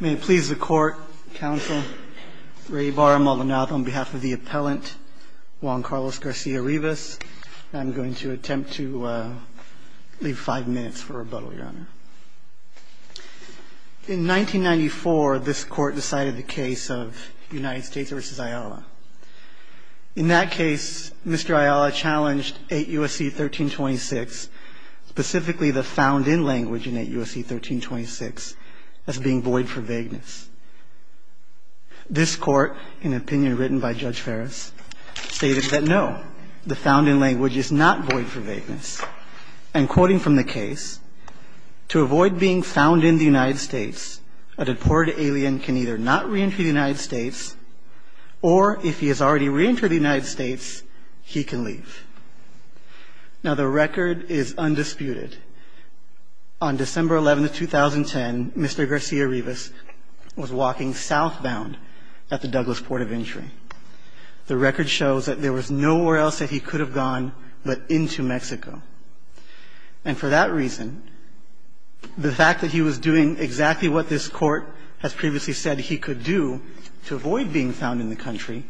May it please the court, counsel, Ray Barr, Maldonado, on behalf of the appellant Juan Carlos Garcia-Rivas, I'm going to attempt to leave five minutes for rebuttal, your honor. In 1994, this court decided the case of United States v. Ayala. In that case, Mr. Ayala challenged 8 U.S.C. 1326, specifically the found-in language in 8 U.S.C. 1326, as being void for vagueness. This court, in an opinion written by Judge Ferris, stated that no, the found-in language is not void for vagueness. And quoting from the case, to avoid being found in the United States, a deported alien can either not reenter the United States or, if he has already reentered the United States, he can leave. Now, the record is undisputed. On December 11th, 2010, Mr. Garcia-Rivas was walking southbound at the Douglas Port of Entry. The record shows that there was nowhere else that he could have gone but into Mexico. And for that reason, the fact that he was doing exactly what this Court has previously said he could do to avoid being found in the country,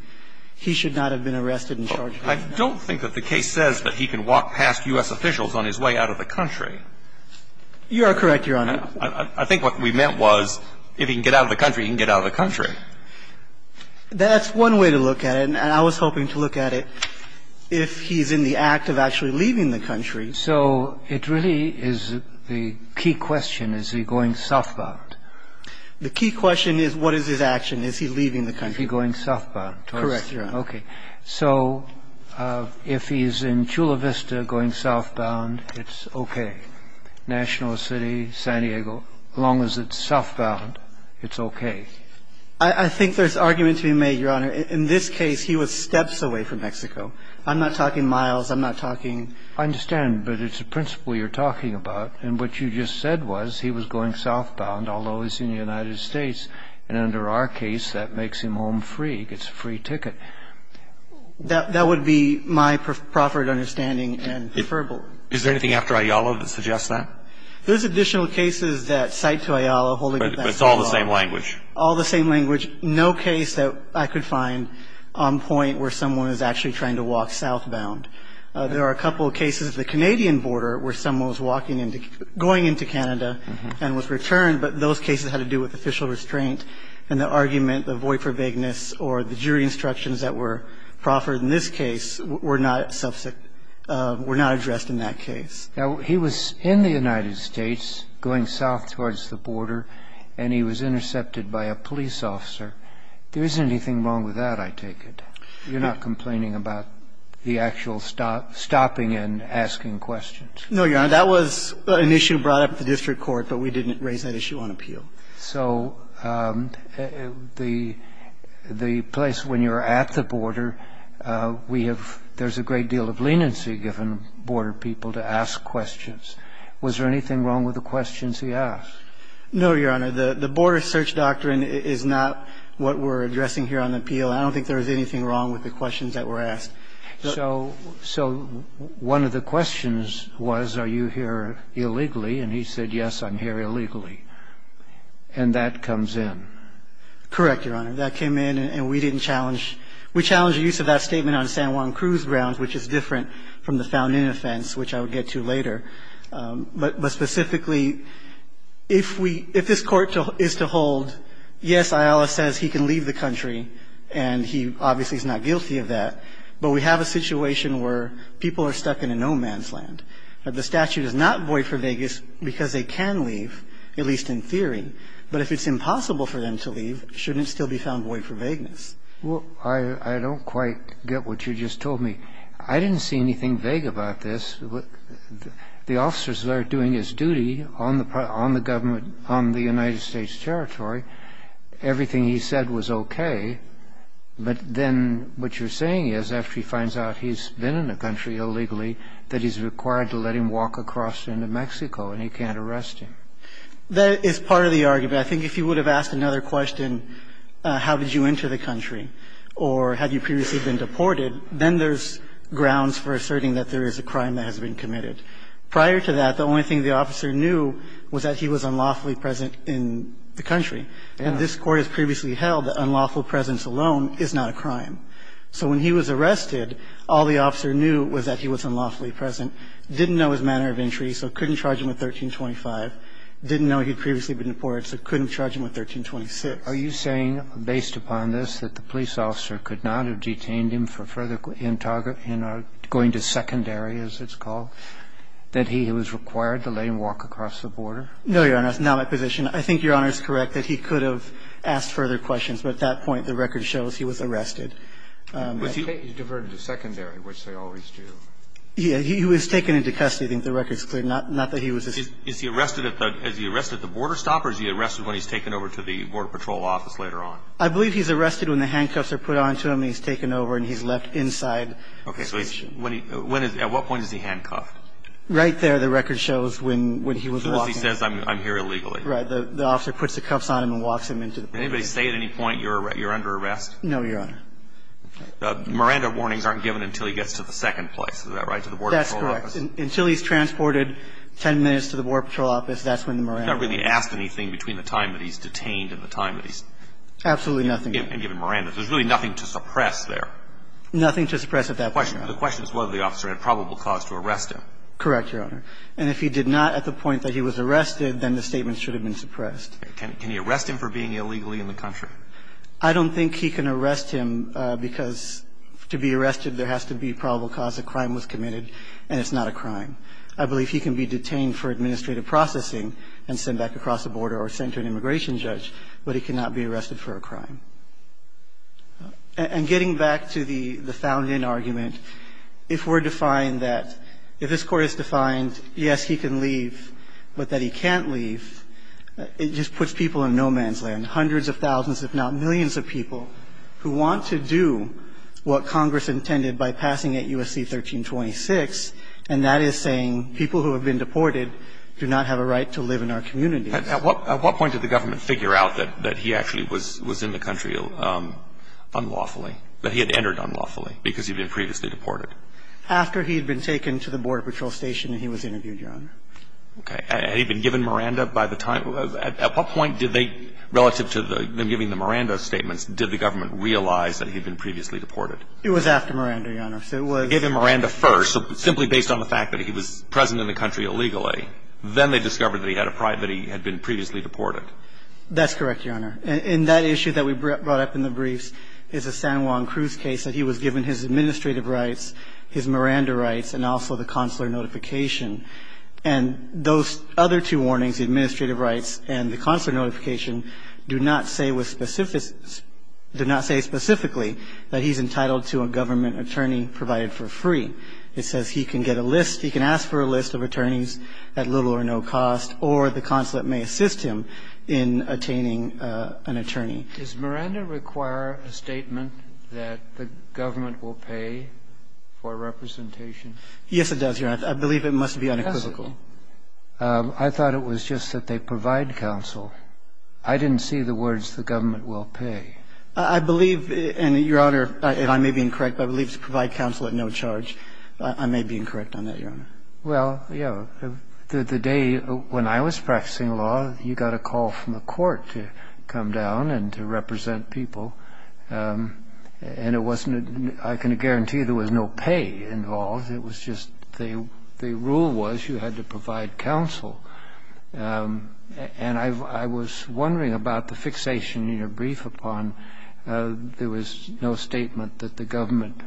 he should not have been arrested and charged with that. I don't think that the case says that he can walk past U.S. officials on his way out of the country. You are correct, Your Honor. I think what we meant was if he can get out of the country, he can get out of the country. That's one way to look at it. And I was hoping to look at it if he's in the act of actually leaving the country. So it really is the key question, is he going southbound? The key question is, what is his action? Is he leaving the country? Is he going southbound? Correct, Your Honor. Okay. So if he's in Chula Vista going southbound, it's okay. National City, San Diego, as long as it's southbound, it's okay. I think there's argument to be made, Your Honor. In this case, he was steps away from Mexico. I'm not talking miles. I'm not talking... I understand, but it's a principle you're talking about. And what you just said was he was going southbound, although he's in the United States. And under our case, that makes him home free. He gets a free ticket. That would be my proper understanding and preferable. Is there anything after Ayala that suggests that? There's additional cases that cite to Ayala holding him back. But it's all the same language. All the same language. No case that I could find on point where someone is actually trying to walk southbound. There are a couple of cases at the Canadian border where someone was walking into going into Canada and was returned. But those cases had to do with official restraint. And the argument, the void for vagueness, or the jury instructions that were proffered in this case were not subject to or were not addressed in that case. Now, he was in the United States going south towards the border, and he was intercepted by a police officer. There isn't anything wrong with that, I take it. You're not complaining about the actual stopping and asking questions. No, Your Honor. That was an issue brought up at the district court, but we didn't raise that issue on appeal. So the place when you're at the border, we have ‑‑ there's a great deal of leniency given border people to ask questions. Was there anything wrong with the questions he asked? No, Your Honor. The border search doctrine is not what we're addressing here on appeal. I don't think there was anything wrong with the questions that were asked. So one of the questions was, are you here illegally? And he said, yes, I'm here illegally. And that comes in. Correct, Your Honor. That came in, and we didn't challenge ‑‑ we challenged the use of that statement on San Juan Cruz grounds, which is different from the found in offense, which I would get to later. But specifically, if we ‑‑ if this Court is to hold, yes, Ayala says he can leave the country, and he obviously is not guilty of that. But we have a situation where people are stuck in a no man's land. The statute is not void for vagueness because they can leave, at least in theory. But if it's impossible for them to leave, shouldn't it still be found void for vagueness? Well, I don't quite get what you just told me. I didn't see anything vague about this. The officers that are doing this duty on the government, on the United States territory, everything he said was okay. But then what you're saying is, after he finds out he's been in the country illegally, that he's required to let him walk across into Mexico and he can't arrest him. That is part of the argument. I think if you would have asked another question, how did you enter the country or had you previously been deported, then there's grounds for asserting that there is a crime that has been committed. Prior to that, the only thing the officer knew was that he was unlawfully present in the country. And this Court has previously held that unlawful presence alone is not a crime. So when he was arrested, all the officer knew was that he was unlawfully present, didn't know his manner of entry, so couldn't charge him with 1325, didn't know he'd previously been deported, so couldn't charge him with 1326. Are you saying, based upon this, that the police officer could not have detained him for further interrogation, going to secondary, as it's called, that he was required to let him walk across the border? No, Your Honor. That's not my position. I think Your Honor is correct that he could have asked further questions, but at that point, the record shows he was arrested. But he's diverted to secondary, which they always do. Yeah. He was taken into custody. I think the record's clear. Not that he was arrested. Is he arrested at the border stop or is he arrested when he's taken over to the Border Patrol office later on? I believe he's arrested when the handcuffs are put on to him and he's taken over and he's left inside. So at what point is he handcuffed? Right there the record shows when he was walking. Because he says, I'm here illegally. Right. The officer puts the cuffs on him and walks him into the building. Did anybody say at any point you're under arrest? No, Your Honor. Miranda warnings aren't given until he gets to the second place. Is that right? To the Border Patrol office? That's correct. Until he's transported 10 minutes to the Border Patrol office, that's when the Miranda warnings are given. He's not really asked anything between the time that he's detained and the time that he's given Miranda. Absolutely nothing. There's really nothing to suppress there. Nothing to suppress at that point, Your Honor. The question is whether the officer had probable cause to arrest him. Correct, Your Honor. And if he did not at the point that he was arrested, then the statement should have been suppressed. Can he arrest him for being illegally in the country? I don't think he can arrest him because to be arrested there has to be probable cause. A crime was committed, and it's not a crime. I believe he can be detained for administrative processing and sent back across the border or sent to an immigration judge, but he cannot be arrested for a crime. And getting back to the found-in argument, if we're defined that, if this Court is defined, yes, he can leave, but that he can't leave, it just puts people in no-man's land, hundreds of thousands, if not millions of people who want to do what Congress intended by passing at U.S.C. 1326, and that is saying people who have been deported do not have a right to live in our communities. At what point did the government figure out that he actually was in the country unlawfully, that he had entered unlawfully because he'd been previously deported? After he had been taken to the Border Patrol station and he was interviewed, Your Honor. Okay. Had he been given Miranda by the time? At what point did they, relative to them giving the Miranda statements, did the government realize that he had been previously deported? It was after Miranda, Your Honor. So it was – They gave him Miranda first, so simply based on the fact that he was present in the country illegally. Then they discovered that he had been previously deported. That's correct, Your Honor. And that issue that we brought up in the briefs is a San Juan Cruz case, that he was given his administrative rights, his Miranda rights, and also the consular notification. And those other two warnings, administrative rights and the consular notification, do not say with specific – do not say specifically that he's entitled to a government attorney provided for free. It says he can get a list, he can ask for a list of attorneys at little or no cost, or the consulate may assist him in attaining an attorney. Does Miranda require a statement that the government will pay for representation? Yes, it does, Your Honor. I believe it must be unequivocal. Yes, it does. I thought it was just that they provide counsel. I didn't see the words the government will pay. I believe, and, Your Honor, and I may be incorrect, but I believe it's provide counsel at no charge. I may be incorrect on that, Your Honor. Well, yes. The day when I was practicing law, you got a call from the court to come down and to represent people. And it wasn't – I can guarantee there was no pay involved. It was just – the rule was you had to provide counsel. And I was wondering about the fixation in your brief upon there was no statement that the government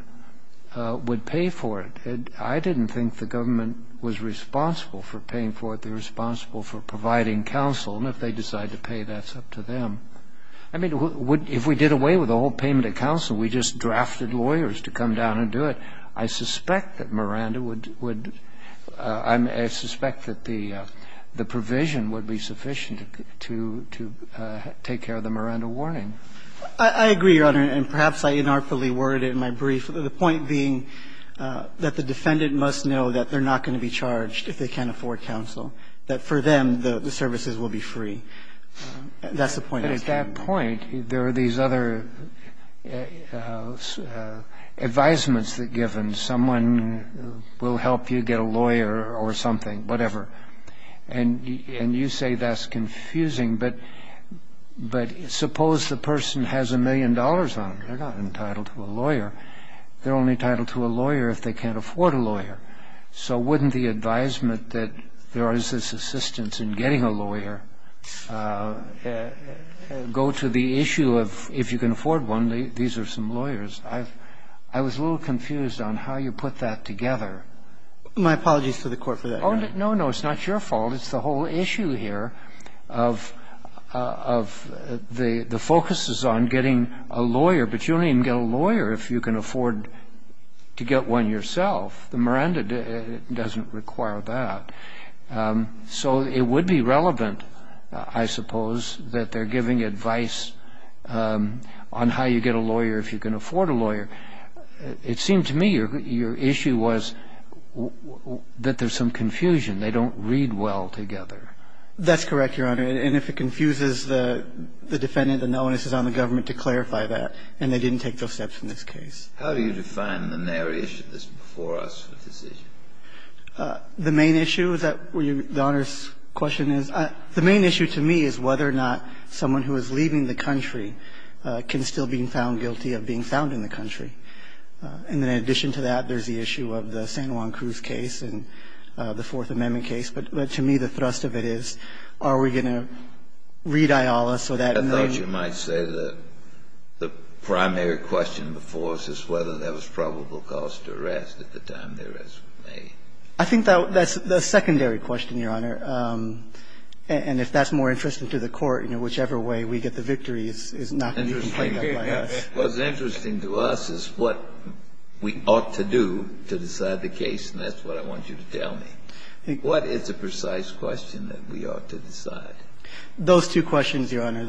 would pay for it. I didn't think the government was responsible for paying for it. They're responsible for providing counsel. And if they decide to pay, that's up to them. I mean, if we did away with the whole payment of counsel, we just drafted lawyers to come down and do it, I suspect that Miranda would – I suspect that the provision would be sufficient to take care of the Miranda warning. I agree, Your Honor. And perhaps I inartfully worded in my brief the point being that the defendant must know that they're not going to be charged if they can't afford counsel, That's the point I'm making. But at that point, there are these other advisements that are given. Someone will help you get a lawyer or something, whatever. And you say that's confusing, but suppose the person has a million dollars on them. They're not entitled to a lawyer. They're only entitled to a lawyer if they can't afford a lawyer. So wouldn't the advisement that there is this assistance in getting a lawyer go to the issue of if you can afford one, these are some lawyers? I was a little confused on how you put that together. My apologies to the Court for that, Your Honor. Oh, no, no. It's not your fault. It's the whole issue here of the focus is on getting a lawyer, but you don't even get a lawyer if you can afford to get one yourself. The Miranda doesn't require that. So it would be relevant, I suppose, that they're giving advice on how you get a lawyer if you can afford a lawyer. It seemed to me your issue was that there's some confusion. They don't read well together. That's correct, Your Honor. And if it confuses the defendant, then the onus is on the government to clarify that, and they didn't take those steps in this case. How do you define the nary issue that's before us with this issue? The main issue that the Honor's question is, the main issue to me is whether or not someone who is leaving the country can still be found guilty of being found in the country. And in addition to that, there's the issue of the San Juan Cruz case and the Fourth Amendment case. But to me, the thrust of it is are we going to read Aeolus or that in the name? And I think that's what you might say the primary question before us is whether that was probable cause to arrest at the time the arrest was made. I think that's the secondary question, Your Honor. And if that's more interesting to the Court, you know, whichever way we get the victory is not going to be played out by us. What's interesting to us is what we ought to do to decide the case, and that's what I want you to tell me. What is the precise question that we ought to decide? Those two questions, Your Honor,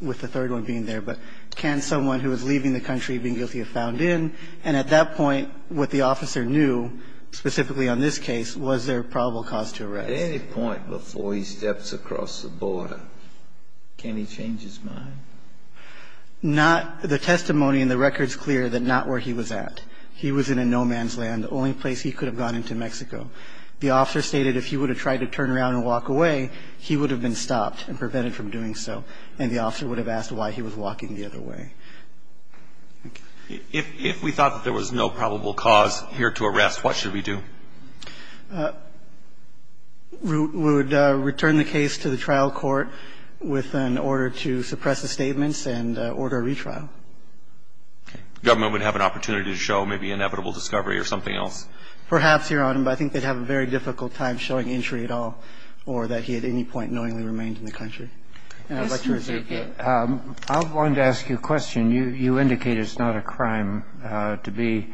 with the third one being there. But can someone who is leaving the country being guilty of found in? And at that point, what the officer knew, specifically on this case, was there probable cause to arrest. At any point before he steps across the border, can he change his mind? Not the testimony in the record is clear that not where he was at. He was in a no-man's land, the only place he could have gone into Mexico. The officer stated if he would have tried to turn around and walk away, he would have been stopped and prevented from doing so. And the officer would have asked why he was walking the other way. If we thought that there was no probable cause here to arrest, what should we do? We would return the case to the trial court with an order to suppress the statements and order a retrial. Okay. The government would have an opportunity to show maybe inevitable discovery or something else. Perhaps, Your Honor, but I think they'd have a very difficult time showing injury at all or that he at any point knowingly remained in the country. And I'd like to reserve that. I wanted to ask you a question. You indicate it's not a crime to be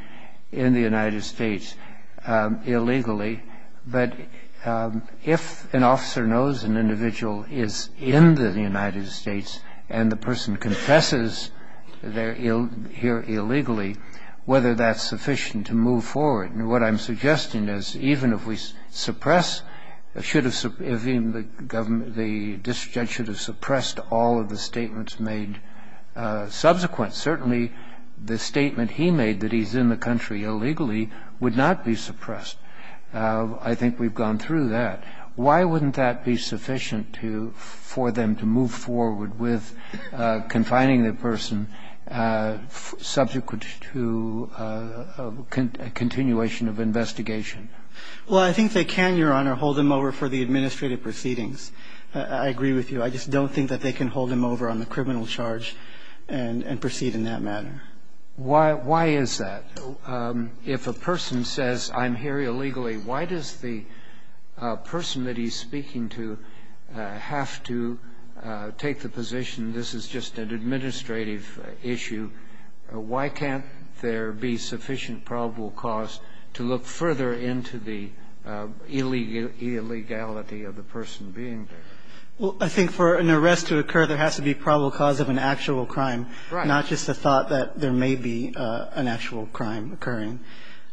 in the United States illegally. But if an officer knows an individual is in the United States and the person confesses here illegally, whether that's sufficient to move forward. What I'm suggesting is even if we suppress, the district judge should have suppressed all of the statements made subsequent. Certainly, the statement he made that he's in the country illegally would not be suppressed. I think we've gone through that. Why wouldn't that be sufficient for them to move forward with confining the person subject to a continuation of investigation? Well, I think they can, Your Honor, hold him over for the administrative proceedings. I agree with you. I just don't think that they can hold him over on the criminal charge and proceed in that manner. Why is that? If a person says I'm here illegally, why does the person that he's speaking to have to take the position this is just an administrative issue? Why can't there be sufficient probable cause to look further into the illegality of the person being there? Well, I think for an arrest to occur, there has to be probable cause of an actual crime, not just the thought that there may be an actual crime occurring.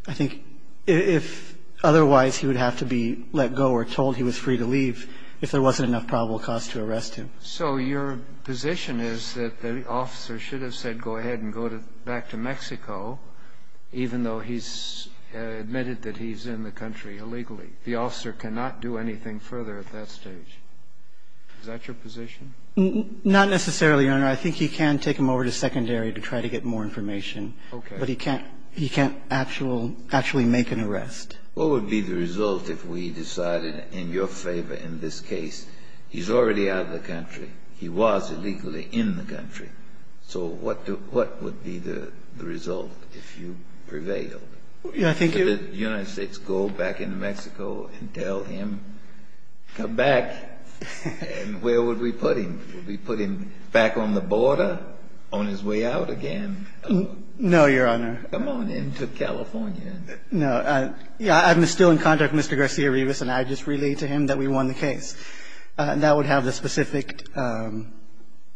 I think if otherwise he would have to be let go or told he was free to leave if there wasn't enough probable cause to arrest him. So your position is that the officer should have said go ahead and go back to Mexico even though he's admitted that he's in the country illegally. The officer cannot do anything further at that stage. Is that your position? Not necessarily, Your Honor. I think he can take him over to secondary to try to get more information. Okay. But he can't actually make an arrest. What would be the result if we decided in your favor in this case he's already out of the country, he was illegally in the country. So what would be the result if you prevailed? Yeah, I think you're right. Did the United States go back into Mexico and tell him, come back, and where would we put him? Would we put him back on the border on his way out again? No, Your Honor. Come on in to California. No. I'm still in contact with Mr. Garcia-Rivas, and I just relayed to him that we won the case. That would have the specific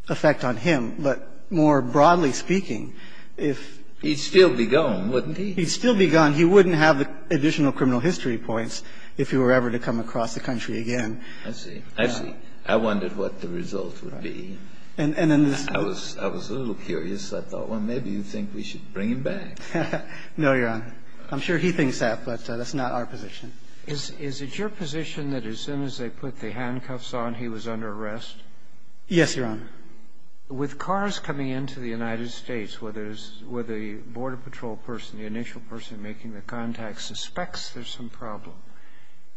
effect on him. But more broadly speaking, if he'd still be gone, wouldn't he? He'd still be gone. He wouldn't have the additional criminal history points if he were ever to come across the country again. I see. I see. I wondered what the result would be. And in this case? I was a little curious. I thought, well, maybe you think we should bring him back. No, Your Honor. I'm sure he thinks that, but that's not our position. Is it your position that as soon as they put the handcuffs on, he was under arrest? Yes, Your Honor. With cars coming into the United States where there's the border patrol person, the initial person making the contact, suspects there's some problem,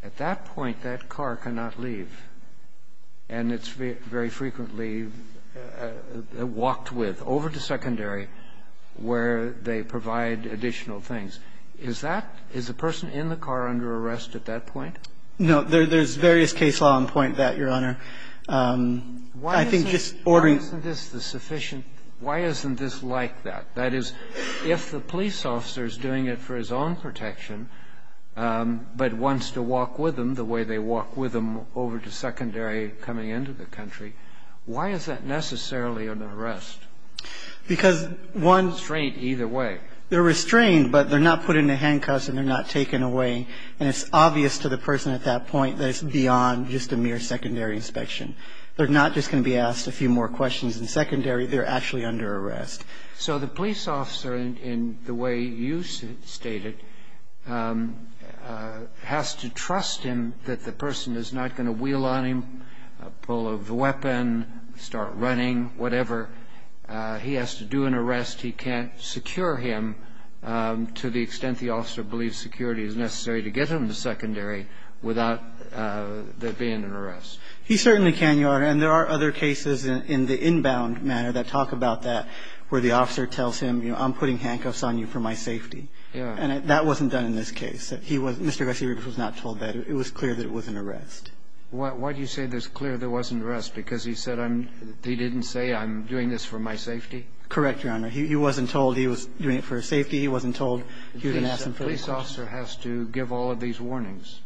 at that point that car cannot leave. And it's very frequently walked with over to secondary where they provide additional things. Is that – is the person in the car under arrest at that point? No. There's various case law that point that, Your Honor. I think just ordering – Why isn't this the sufficient – why isn't this like that? That is, if the police officer is doing it for his own protection, but wants to walk with him the way they walk with him over to secondary coming into the country, why is that necessarily an arrest? Because one – They're restrained either way. They're restrained, but they're not put in the handcuffs and they're not taken away. And it's obvious to the person at that point that it's beyond just a mere secondary inspection. They're not just going to be asked a few more questions in secondary. They're actually under arrest. So the police officer, in the way you stated, has to trust him that the person is not going to wheel on him, pull out the weapon, start running, whatever. He has to do an arrest. He can't secure him to the extent the officer believes security is necessary to get him to secondary without there being an arrest. He certainly can, Your Honor. And there are other cases in the inbound manner that talk about that, where the officer tells him, you know, I'm putting handcuffs on you for my safety. Yeah. And that wasn't done in this case. He was – Mr. Garcia-Ruiz was not told that. It was clear that it was an arrest. Why do you say it was clear there wasn't an arrest? Because he said I'm – he didn't say I'm doing this for my safety? Correct, Your Honor. He wasn't told he was doing it for his safety. He wasn't told he was going to ask him further questions. The police officer has to give all of these warnings.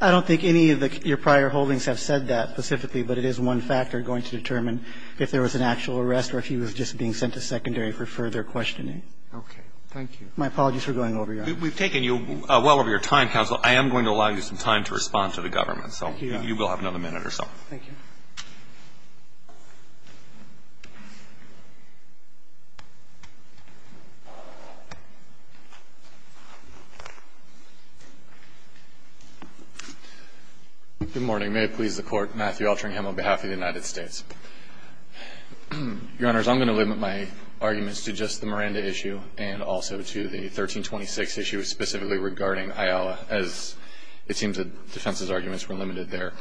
I don't think any of your prior holdings have said that specifically, but it is one factor going to determine if there was an actual arrest or if he was just being sent to secondary for further questioning. Okay. Thank you. My apologies for going over, Your Honor. We've taken you well over your time, counsel. I am going to allow you some time to respond to the government. So you will have another minute or so. Thank you. Good morning. May it please the Court. Matthew Altringham on behalf of the United States. Your Honors, I'm going to limit my arguments to just the Miranda issue and also to the 1326 issue specifically regarding Ayala, as it seems that defense's arguments were limited there.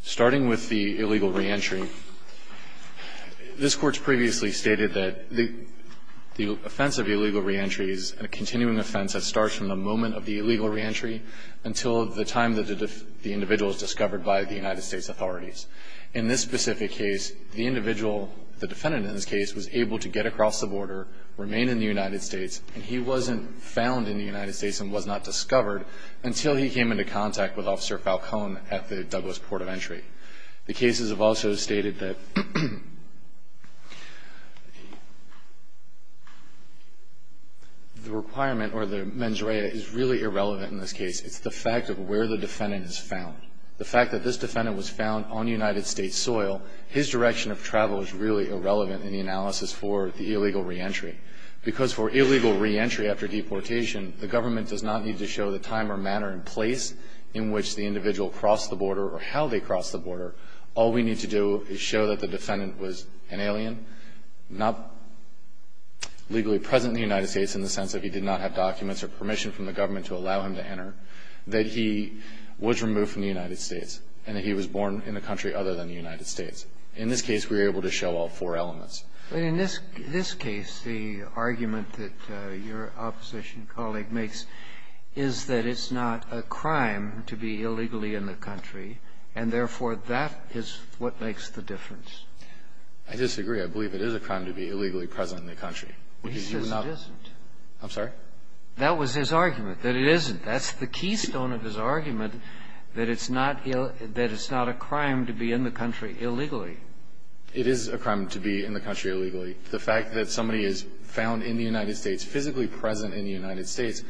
Starting with the illegal reentry, this Court's previously stated that the offense of illegal reentry is a continuing offense that starts from the moment of the illegal reentry until the time that the individual is discovered by the United States authorities. In this specific case, the individual, the defendant in this case, was able to get across the border, remain in the United States, and he wasn't found in the United States and was not discovered until he came into contact with Officer Falcone at the Douglas Port of Entry. The cases have also stated that the requirement or the mens rea is really irrelevant in this case. It's the fact of where the defendant is found. The fact that this defendant was found on United States soil, his direction of travel is really irrelevant in the analysis for the illegal reentry. Because for illegal reentry after deportation, the government does not need to show the time or manner and place in which the individual crossed the border or how they crossed the border. All we need to do is show that the defendant was an alien, not legally present in the United States in the sense that he did not have documents or permission from the government to allow him to enter, that he was removed from the United States, and that he was born in a country other than the United States. In this case, we were able to show all four elements. But in this case, the argument that your opposition colleague makes is that it's not a crime to be illegally in the country, and therefore, that is what makes the difference. I disagree. I believe it is a crime to be illegally present in the country. He says it isn't. I'm sorry? That was his argument, that it isn't. That's the keystone of his argument, that it's not a crime to be in the country illegally. It is a crime to be in the country illegally. The fact that somebody is found in the United States, physically present in the United States,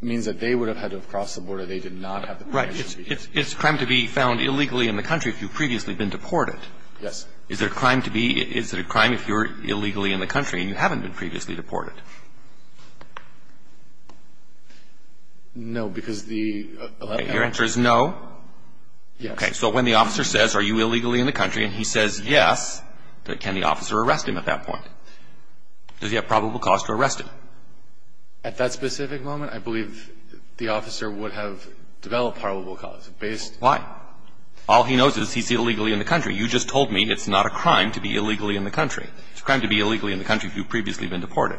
means that they would have had to have crossed the border. They did not have the permission to be here. Right. It's a crime to be found illegally in the country if you've previously been deported. Yes. Is it a crime to be – is it a crime if you're illegally in the country and you haven't been previously deported? No, because the – Your answer is no? Yes. Okay. So when the officer says, are you illegally in the country, and he says yes, can the officer arrest him at that point? Does he have probable cause to arrest him? At that specific moment, I believe the officer would have developed probable cause based – Why? All he knows is he's illegally in the country. You just told me it's not a crime to be illegally in the country. It's a crime to be illegally in the country if you've previously been deported.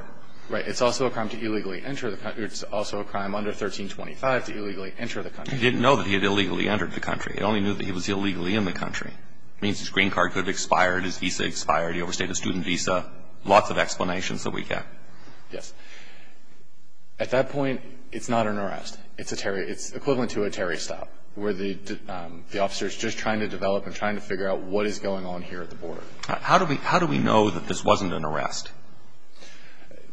Right. It's also a crime to illegally enter the country. It's also a crime under 1325 to illegally enter the country. He didn't know that he had illegally entered the country. He only knew that he was illegally in the country. It means his green card could have expired, his visa expired, he overstayed a student visa. Lots of explanations that we get. Yes. At that point, it's not an arrest. It's a – it's equivalent to a Terry stop where the officer is just trying to develop and trying to figure out what is going on here at the border. How do we know that this wasn't an arrest?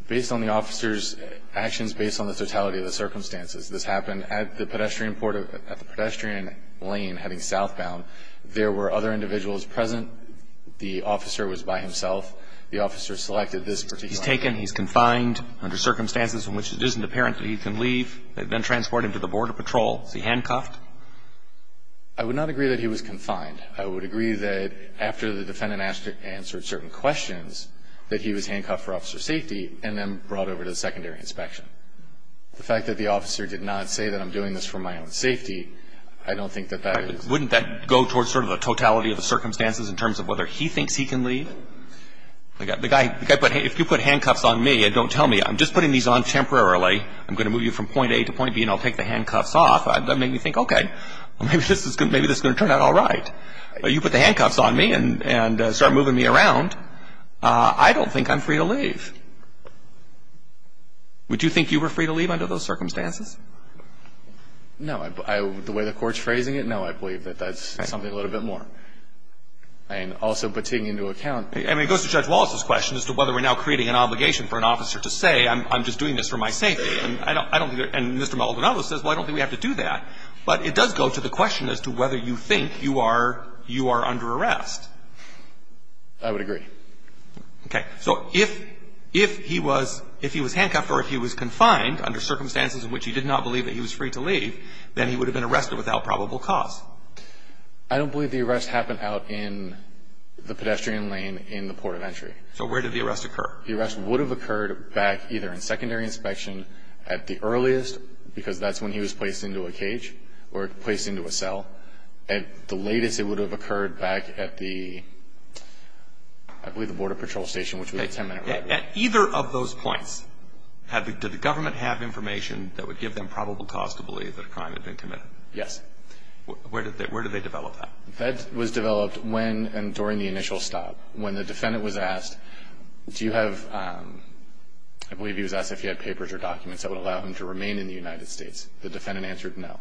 Based on the officer's actions, based on the totality of the circumstances. This happened at the pedestrian port of – at the pedestrian lane heading southbound. There were other individuals present. The officer was by himself. The officer selected this particular – He's taken. He's confined under circumstances in which it isn't apparent that he can leave. They then transport him to the border patrol. Is he handcuffed? I would not agree that he was confined. I would agree that after the defendant answered certain questions that he was handcuffed for officer safety and then brought over to the secondary inspection. The fact that the officer did not say that I'm doing this for my own safety, I don't think that that is – Wouldn't that go towards sort of the totality of the circumstances in terms of whether he thinks he can leave? The guy – if you put handcuffs on me and don't tell me, I'm just putting these on temporarily. I'm going to move you from point A to point B and I'll take the handcuffs off. That would make me think, okay, maybe this is going to turn out all right. You put the handcuffs on me and start moving me around. I don't think I'm free to leave. Would you think you were free to leave under those circumstances? No. The way the Court's phrasing it, no, I believe that that's something a little bit more. And also, but taking into account – I mean, it goes to Judge Wallace's question as to whether we're now creating an obligation for an officer to say I'm just doing this for my safety. And I don't think – and Mr. Maldonado says, well, I don't think we have to do that. But it does go to the question as to whether you think you are – you are under arrest. I would agree. Okay. So if he was – if he was handcuffed or if he was confined under circumstances in which he did not believe that he was free to leave, then he would have been arrested without probable cause. I don't believe the arrest happened out in the pedestrian lane in the port of entry. So where did the arrest occur? The arrest would have occurred back either in secondary inspection at the earliest because that's when he was placed into a cage or placed into a cell. At the latest, it would have occurred back at the – I believe the Border Patrol Station, which was a ten-minute ride away. At either of those points, did the government have information that would give them probable cause to believe that a crime had been committed? Yes. Where did they develop that? That was developed when and during the initial stop. When the defendant was asked, do you have – I believe he was asked if he had papers or documents that would allow him to remain in the United States. The defendant answered no.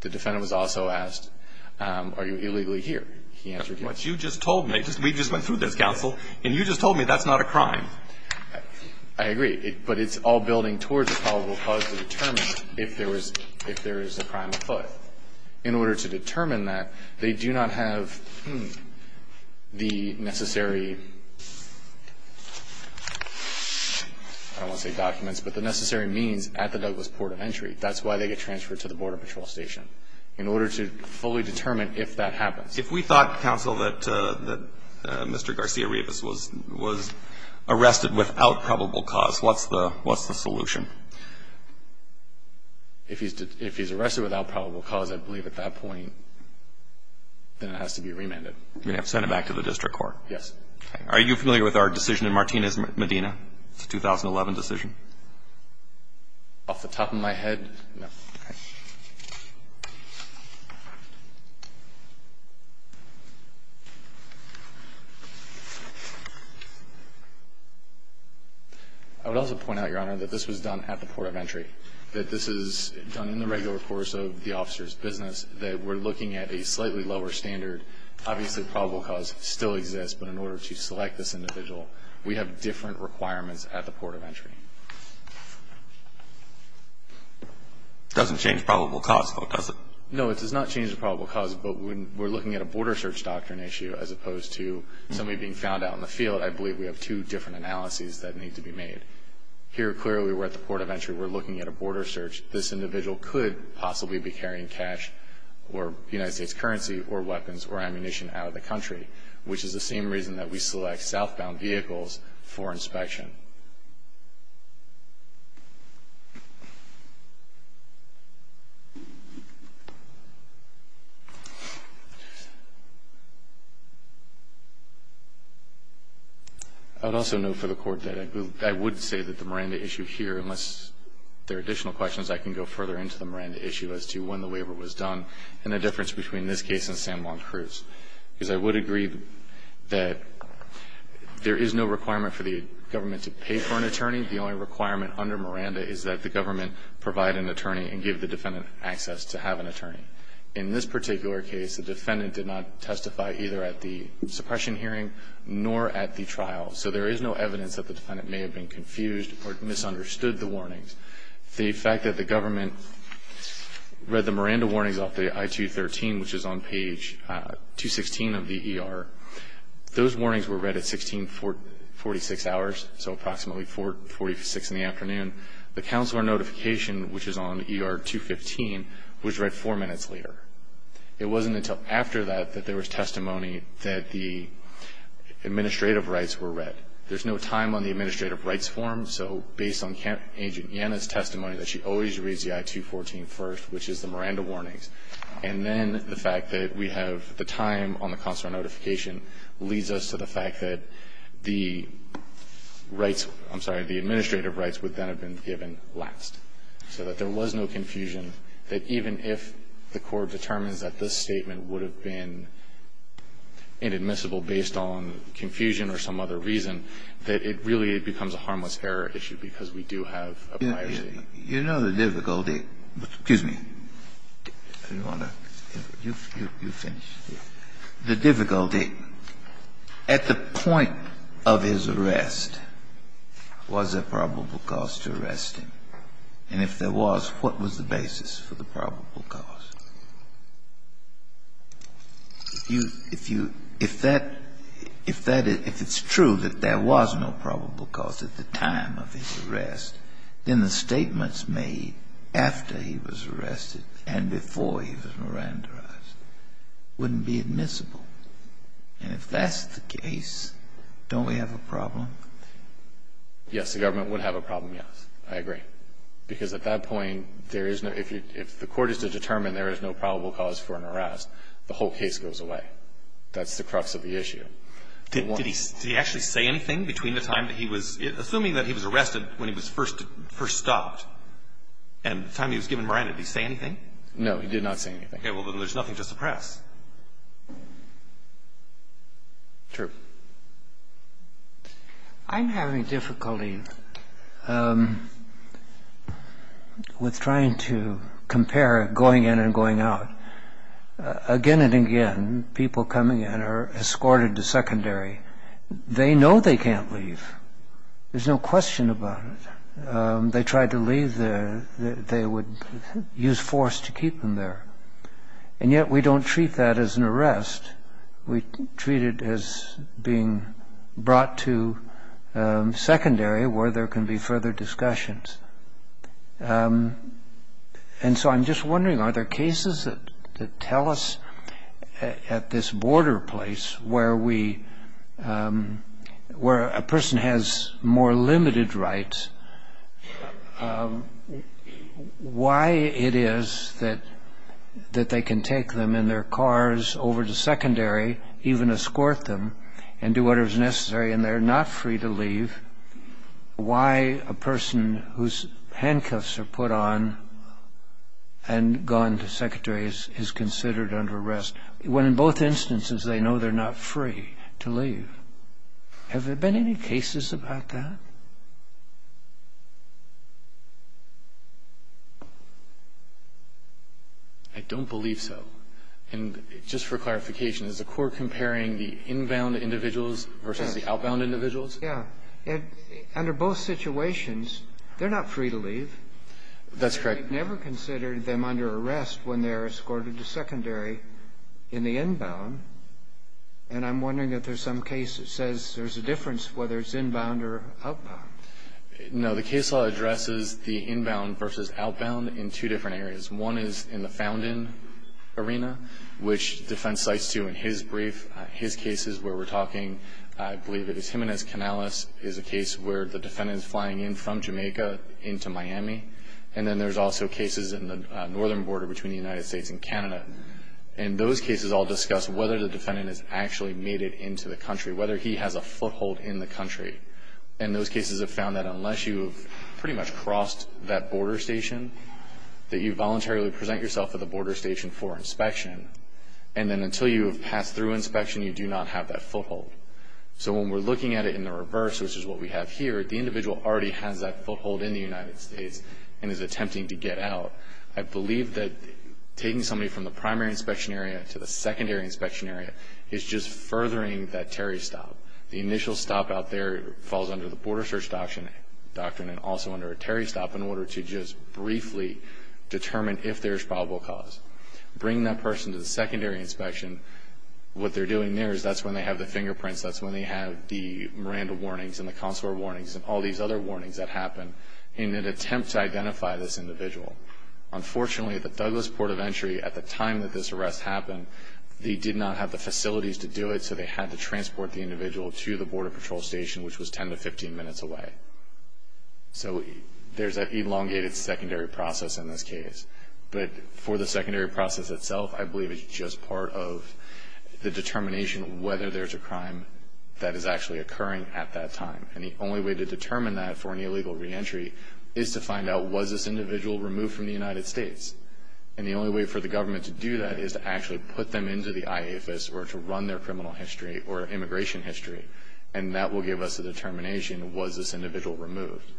The defendant was also asked, are you illegally here? He answered yes. But you just told me – we just went through this, counsel, and you just told me that's not a crime. I agree. But it's all building towards a probable cause to determine if there is a crime afoot. In order to determine that, they do not have the necessary – I don't want to say documents, but the necessary means at the Douglas Port of Entry. That's why they get transferred to the Border Patrol Station, in order to fully determine if that happens. If we thought, counsel, that Mr. Garcia-Rivas was arrested without probable cause, what's the solution? If he's arrested without probable cause, I believe at that point, then it has to be remanded. You're going to have to send it back to the district court. Yes. Are you familiar with our decision in Martinez-Medina, the 2011 decision? Off the top of my head, no. Okay. I would also point out, Your Honor, that this was done at the Port of Entry, that this is done in the regular course of the officer's business, that we're looking at a slightly lower standard. Obviously, probable cause still exists, but in order to select this individual, we have different requirements at the Port of Entry. It doesn't change probable cause, though, does it? No, it does not change the probable cause, but when we're looking at a border search doctrine issue, as opposed to somebody being found out in the field, I believe we have two different analyses that need to be made. Here, clearly, we're at the Port of Entry. We're looking at a border search. This individual could possibly be carrying cash or United States currency or weapons or ammunition out of the country, which is the same reason that we select southbound vehicles for inspection. I would also note for the Court that I would say that the Miranda issue here, unless there are additional questions, I can go further into the Miranda issue as to when the waiver was done and the difference between this case and San Juan Cruz, because I would agree that there is no requirement for the government to pay for an attorney. The only requirement under Miranda is that the government provide an attorney and give the defendant access to have an attorney. In this particular case, the defendant did not testify either at the suppression hearing nor at the trial, so there is no evidence that the defendant may have been confused or misunderstood the warnings. The fact that the government read the Miranda warnings off the I-213, which is on page 216 of the ER, those warnings were read at 1646 hours, so approximately 446 in the afternoon. The counselor notification, which is on ER 215, was read four minutes later. It wasn't until after that that there was testimony that the administrative rights were read. There's no time on the administrative rights form, so based on Agent Yana's testimony that she always reads the I-214 first, which is the Miranda warnings. And then the fact that we have the time on the counselor notification leads us to the fact that the rights, I'm sorry, the administrative rights would then have been given last, so that there was no confusion, that even if the court determines that this statement would have been inadmissible based on confusion or some other reason, that it really becomes a harmless error issue because we do have a prior statement. Kennedy, you know the difficulty at the point of his arrest, was there probable cause to arrest him, and if there was, what was the basis for the probable cause? If you, if that, if it's true that there was no probable cause at the time of his arrest, the government's made after he was arrested and before he was Miranda-ized wouldn't be admissible. And if that's the case, don't we have a problem? Yes, the government would have a problem, yes. I agree. Because at that point, there is no, if you, if the court is to determine there is no probable cause for an arrest, the whole case goes away. That's the crux of the issue. Did he actually say anything between the time that he was, assuming that he was arrested when he was first stopped and the time he was given Miranda, did he say anything? No, he did not say anything. Okay. Well, then there's nothing to suppress. True. I'm having difficulty with trying to compare going in and going out. Again and again, people coming in are escorted to secondary. They know they can't leave. There's no question about it. They tried to leave there. They would use force to keep them there. And yet we don't treat that as an arrest. We treat it as being brought to secondary where there can be further discussions. And so I'm just wondering, are there cases that tell us at this border place where we, where a person has more limited rights, why it is that they can take them in their cars over to secondary, even escort them and do whatever is necessary and they're not free to leave? Why a person whose handcuffs are put on and gone to secondary is considered under arrest, when in both instances they know they're not free to leave? Have there been any cases about that? I don't believe so. And just for clarification, is the court comparing the inbound individuals versus the outbound individuals? Yeah. Under both situations, they're not free to leave. That's correct. They've never considered them under arrest when they're escorted to secondary in the inbound. And I'm wondering if there's some case that says there's a difference whether it's inbound or outbound. No. The case law addresses the inbound versus outbound in two different areas. One is in the found-in arena, which defense cites to in his brief. His case is where we're talking, I believe it is Jimenez-Canales, is a case where the defendant is flying in from Jamaica into Miami. And then there's also cases in the northern border between the United States and Canada. And those cases all discuss whether the defendant has actually made it into the country, whether he has a foothold in the country. And those cases have found that unless you've pretty much crossed that border station, that you voluntarily present yourself at the border station for inspection. And then until you have passed through inspection, you do not have that foothold. So when we're looking at it in the reverse, which is what we have here, the individual already has that foothold in the United States and is attempting to get out. I believe that taking somebody from the primary inspection area to the secondary inspection area is just furthering that terry stop. The initial stop out there falls under the border search doctrine and also under a terry stop in order to just briefly determine if there's probable cause. Bringing that person to the secondary inspection, what they're doing there is that's when they have the fingerprints, that's when they have the Miranda warnings and the consular warnings and all these other warnings that happen in an attempt to identify this individual. Unfortunately, at the Douglas Port of Entry, at the time that this arrest happened, they did not have the facilities to do it, so they had to transport the individual to the border patrol station, which was 10 to 15 minutes away. So there's that elongated secondary process in this case. But for the secondary process itself, I believe it's just part of the determination whether there's a crime that is actually occurring at that time. And the only way to determine that for an illegal reentry is to find out, was this individual removed from the United States? And the only way for the government to do that is to actually put them into the IAFIS or to run their criminal history or immigration history, and that will give us a determination, was this individual removed?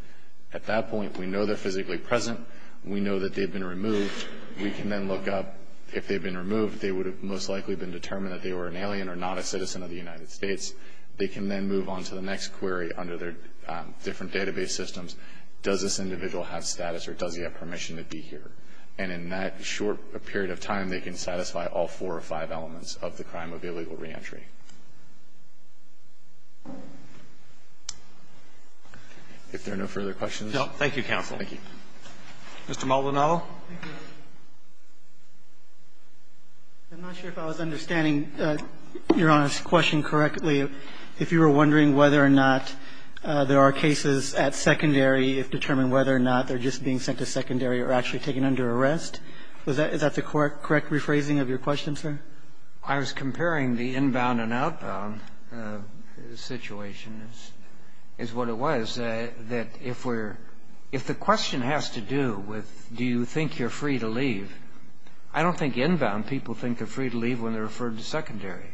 At that point, we know they're physically present. We know that they've been removed. We can then look up, if they've been removed, they would have most likely been determined that they were an alien or not a citizen of the United States. They can then move on to the next query under their different database systems. Does this individual have status or does he have permission to be here? And in that short period of time, they can satisfy all four or five elements of the crime of illegal reentry. If there are no further questions. Roberts. Thank you, counsel. Thank you. Mr. Maldonado. I'm not sure if I was understanding Your Honor's question correctly. If you were wondering whether or not there are cases at secondary, if determined whether or not they're just being sent to secondary or actually taken under arrest, is that the correct rephrasing of your question, sir? I was comparing the inbound and outbound situation, is what it was, that if we're looking at the question, if the question has to do with do you think you're free to leave, I don't think inbound people think they're free to leave when they're referred to secondary.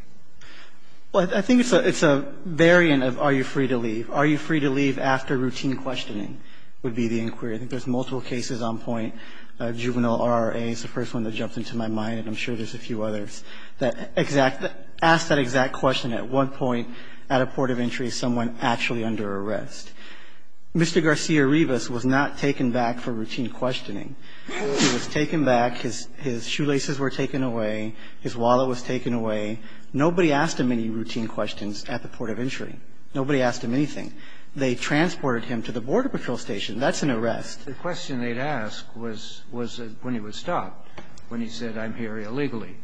Well, I think it's a variant of are you free to leave. Are you free to leave after routine questioning would be the inquiry. I think there's multiple cases on point. Juvenile RRA is the first one that jumped into my mind. I'm sure there's a few others that exact the question at one point at a port of entry and say someone actually under arrest. Mr. Garcia-Rivas was not taken back for routine questioning. He was taken back. His shoelaces were taken away. His wallet was taken away. Nobody asked him any routine questions at the port of entry. Nobody asked him anything. They transported him to the border patrol station. That's an arrest. The question they'd ask was when he was stopped, when he said I'm here illegally.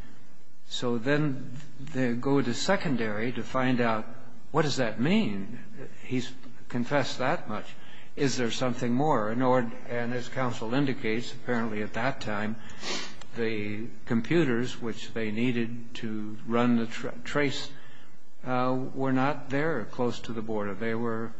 So then they go to secondary to find out what does that mean. He's confessed that much. Is there something more? And as counsel indicates, apparently at that time the computers which they needed to run the trace were not there close to the border. They were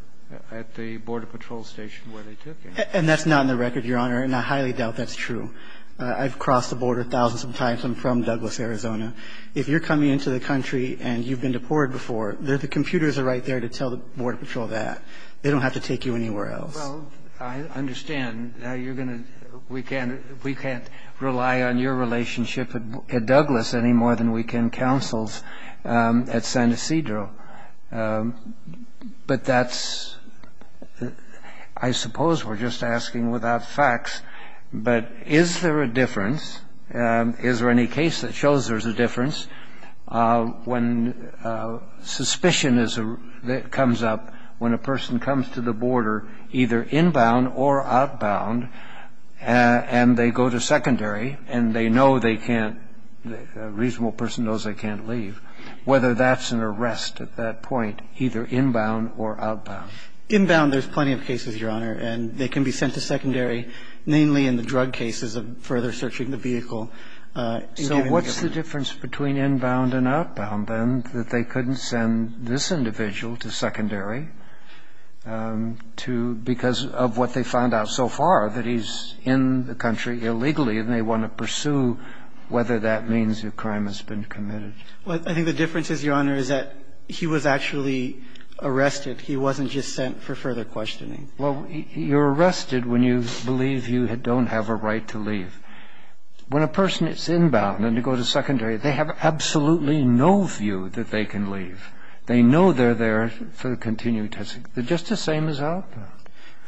at the border patrol station where they took him. And that's not in the record, Your Honor, and I highly doubt that's true. I've crossed the border thousands of times. I'm from Douglas, Arizona. If you're coming into the country and you've been deported before, the computers are right there to tell the border patrol that. They don't have to take you anywhere else. Well, I understand. We can't rely on your relationship at Douglas any more than we can counsels at San Ysidro. But that's – I suppose we're just asking without facts. But is there a difference? Is there any case that shows there's a difference when suspicion comes up when a person comes to the border, either inbound or outbound, and they go to secondary and they know they can't – a reasonable person knows they can't leave, whether that's an arrest at that point, either inbound or outbound? Inbound, there's plenty of cases, Your Honor, and they can be sent to secondary, mainly in the drug cases of further searching the vehicle. So what's the difference between inbound and outbound, then, that they couldn't send this individual to secondary to – because of what they found out so far, that he's in the country illegally and they want to pursue whether that means a crime has been committed? Well, I think the difference is, Your Honor, is that he was actually arrested. He wasn't just sent for further questioning. Well, you're arrested when you believe you don't have a right to leave. When a person is inbound and then they go to secondary, they have absolutely no view that they can leave. They know they're there for the continuing testing. They're just the same as outbound.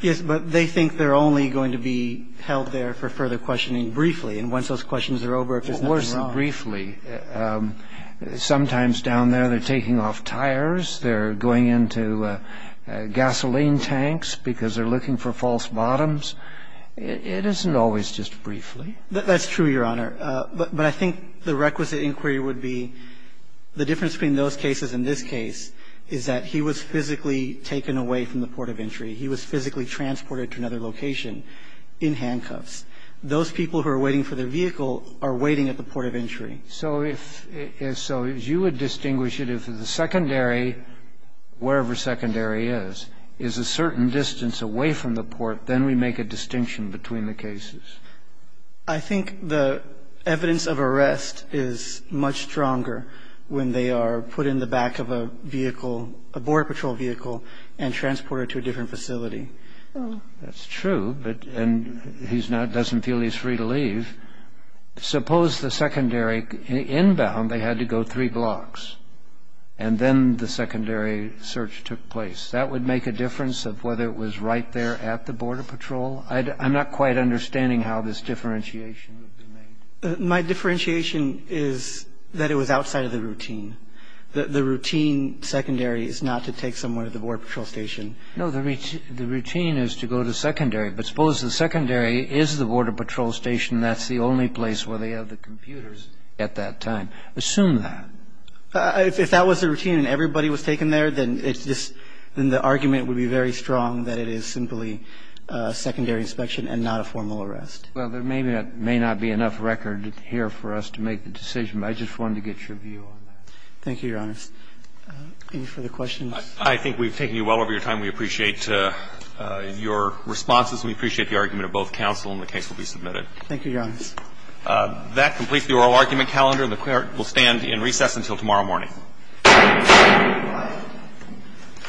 Yes, but they think they're only going to be held there for further questioning briefly. And once those questions are over, if there's nothing wrong – Of course, briefly. Sometimes down there they're taking off tires, they're going into gasoline tanks because they're looking for false bottoms. It isn't always just briefly. That's true, Your Honor. But I think the requisite inquiry would be the difference between those cases and this case is that he was physically taken away from the port of entry. He was physically transported to another location in handcuffs. Those people who are waiting for their vehicle are waiting at the port of entry. So if – so you would distinguish it if the secondary, wherever secondary is, is a certain distance away from the port, then we make a distinction between the cases. I think the evidence of arrest is much stronger when they are put in the back of a vehicle, a Border Patrol vehicle, and transported to a different facility. That's true, but – and he's not – doesn't feel he's free to leave. Suppose the secondary – inbound they had to go three blocks and then the secondary search took place. That would make a difference of whether it was right there at the Border Patrol. I'm not quite understanding how this differentiation would be made. My differentiation is that it was outside of the routine. The routine secondary is not to take someone to the Border Patrol station. No. The routine is to go to secondary. But suppose the secondary is the Border Patrol station. That's the only place where they have the computers at that time. Assume that. If that was the routine and everybody was taken there, then it's just – then the argument would be very strong that it is simply a secondary inspection and not a formal arrest. Well, there may not be enough record here for us to make the decision, but I just wanted to get your view on that. Thank you, Your Honor. Any further questions? I think we've taken you well over your time. We appreciate your responses and we appreciate the argument of both counsel, and the case will be submitted. Thank you, Your Honor. That completes the oral argument calendar, and the Court will stand in recess until tomorrow morning. Thank you.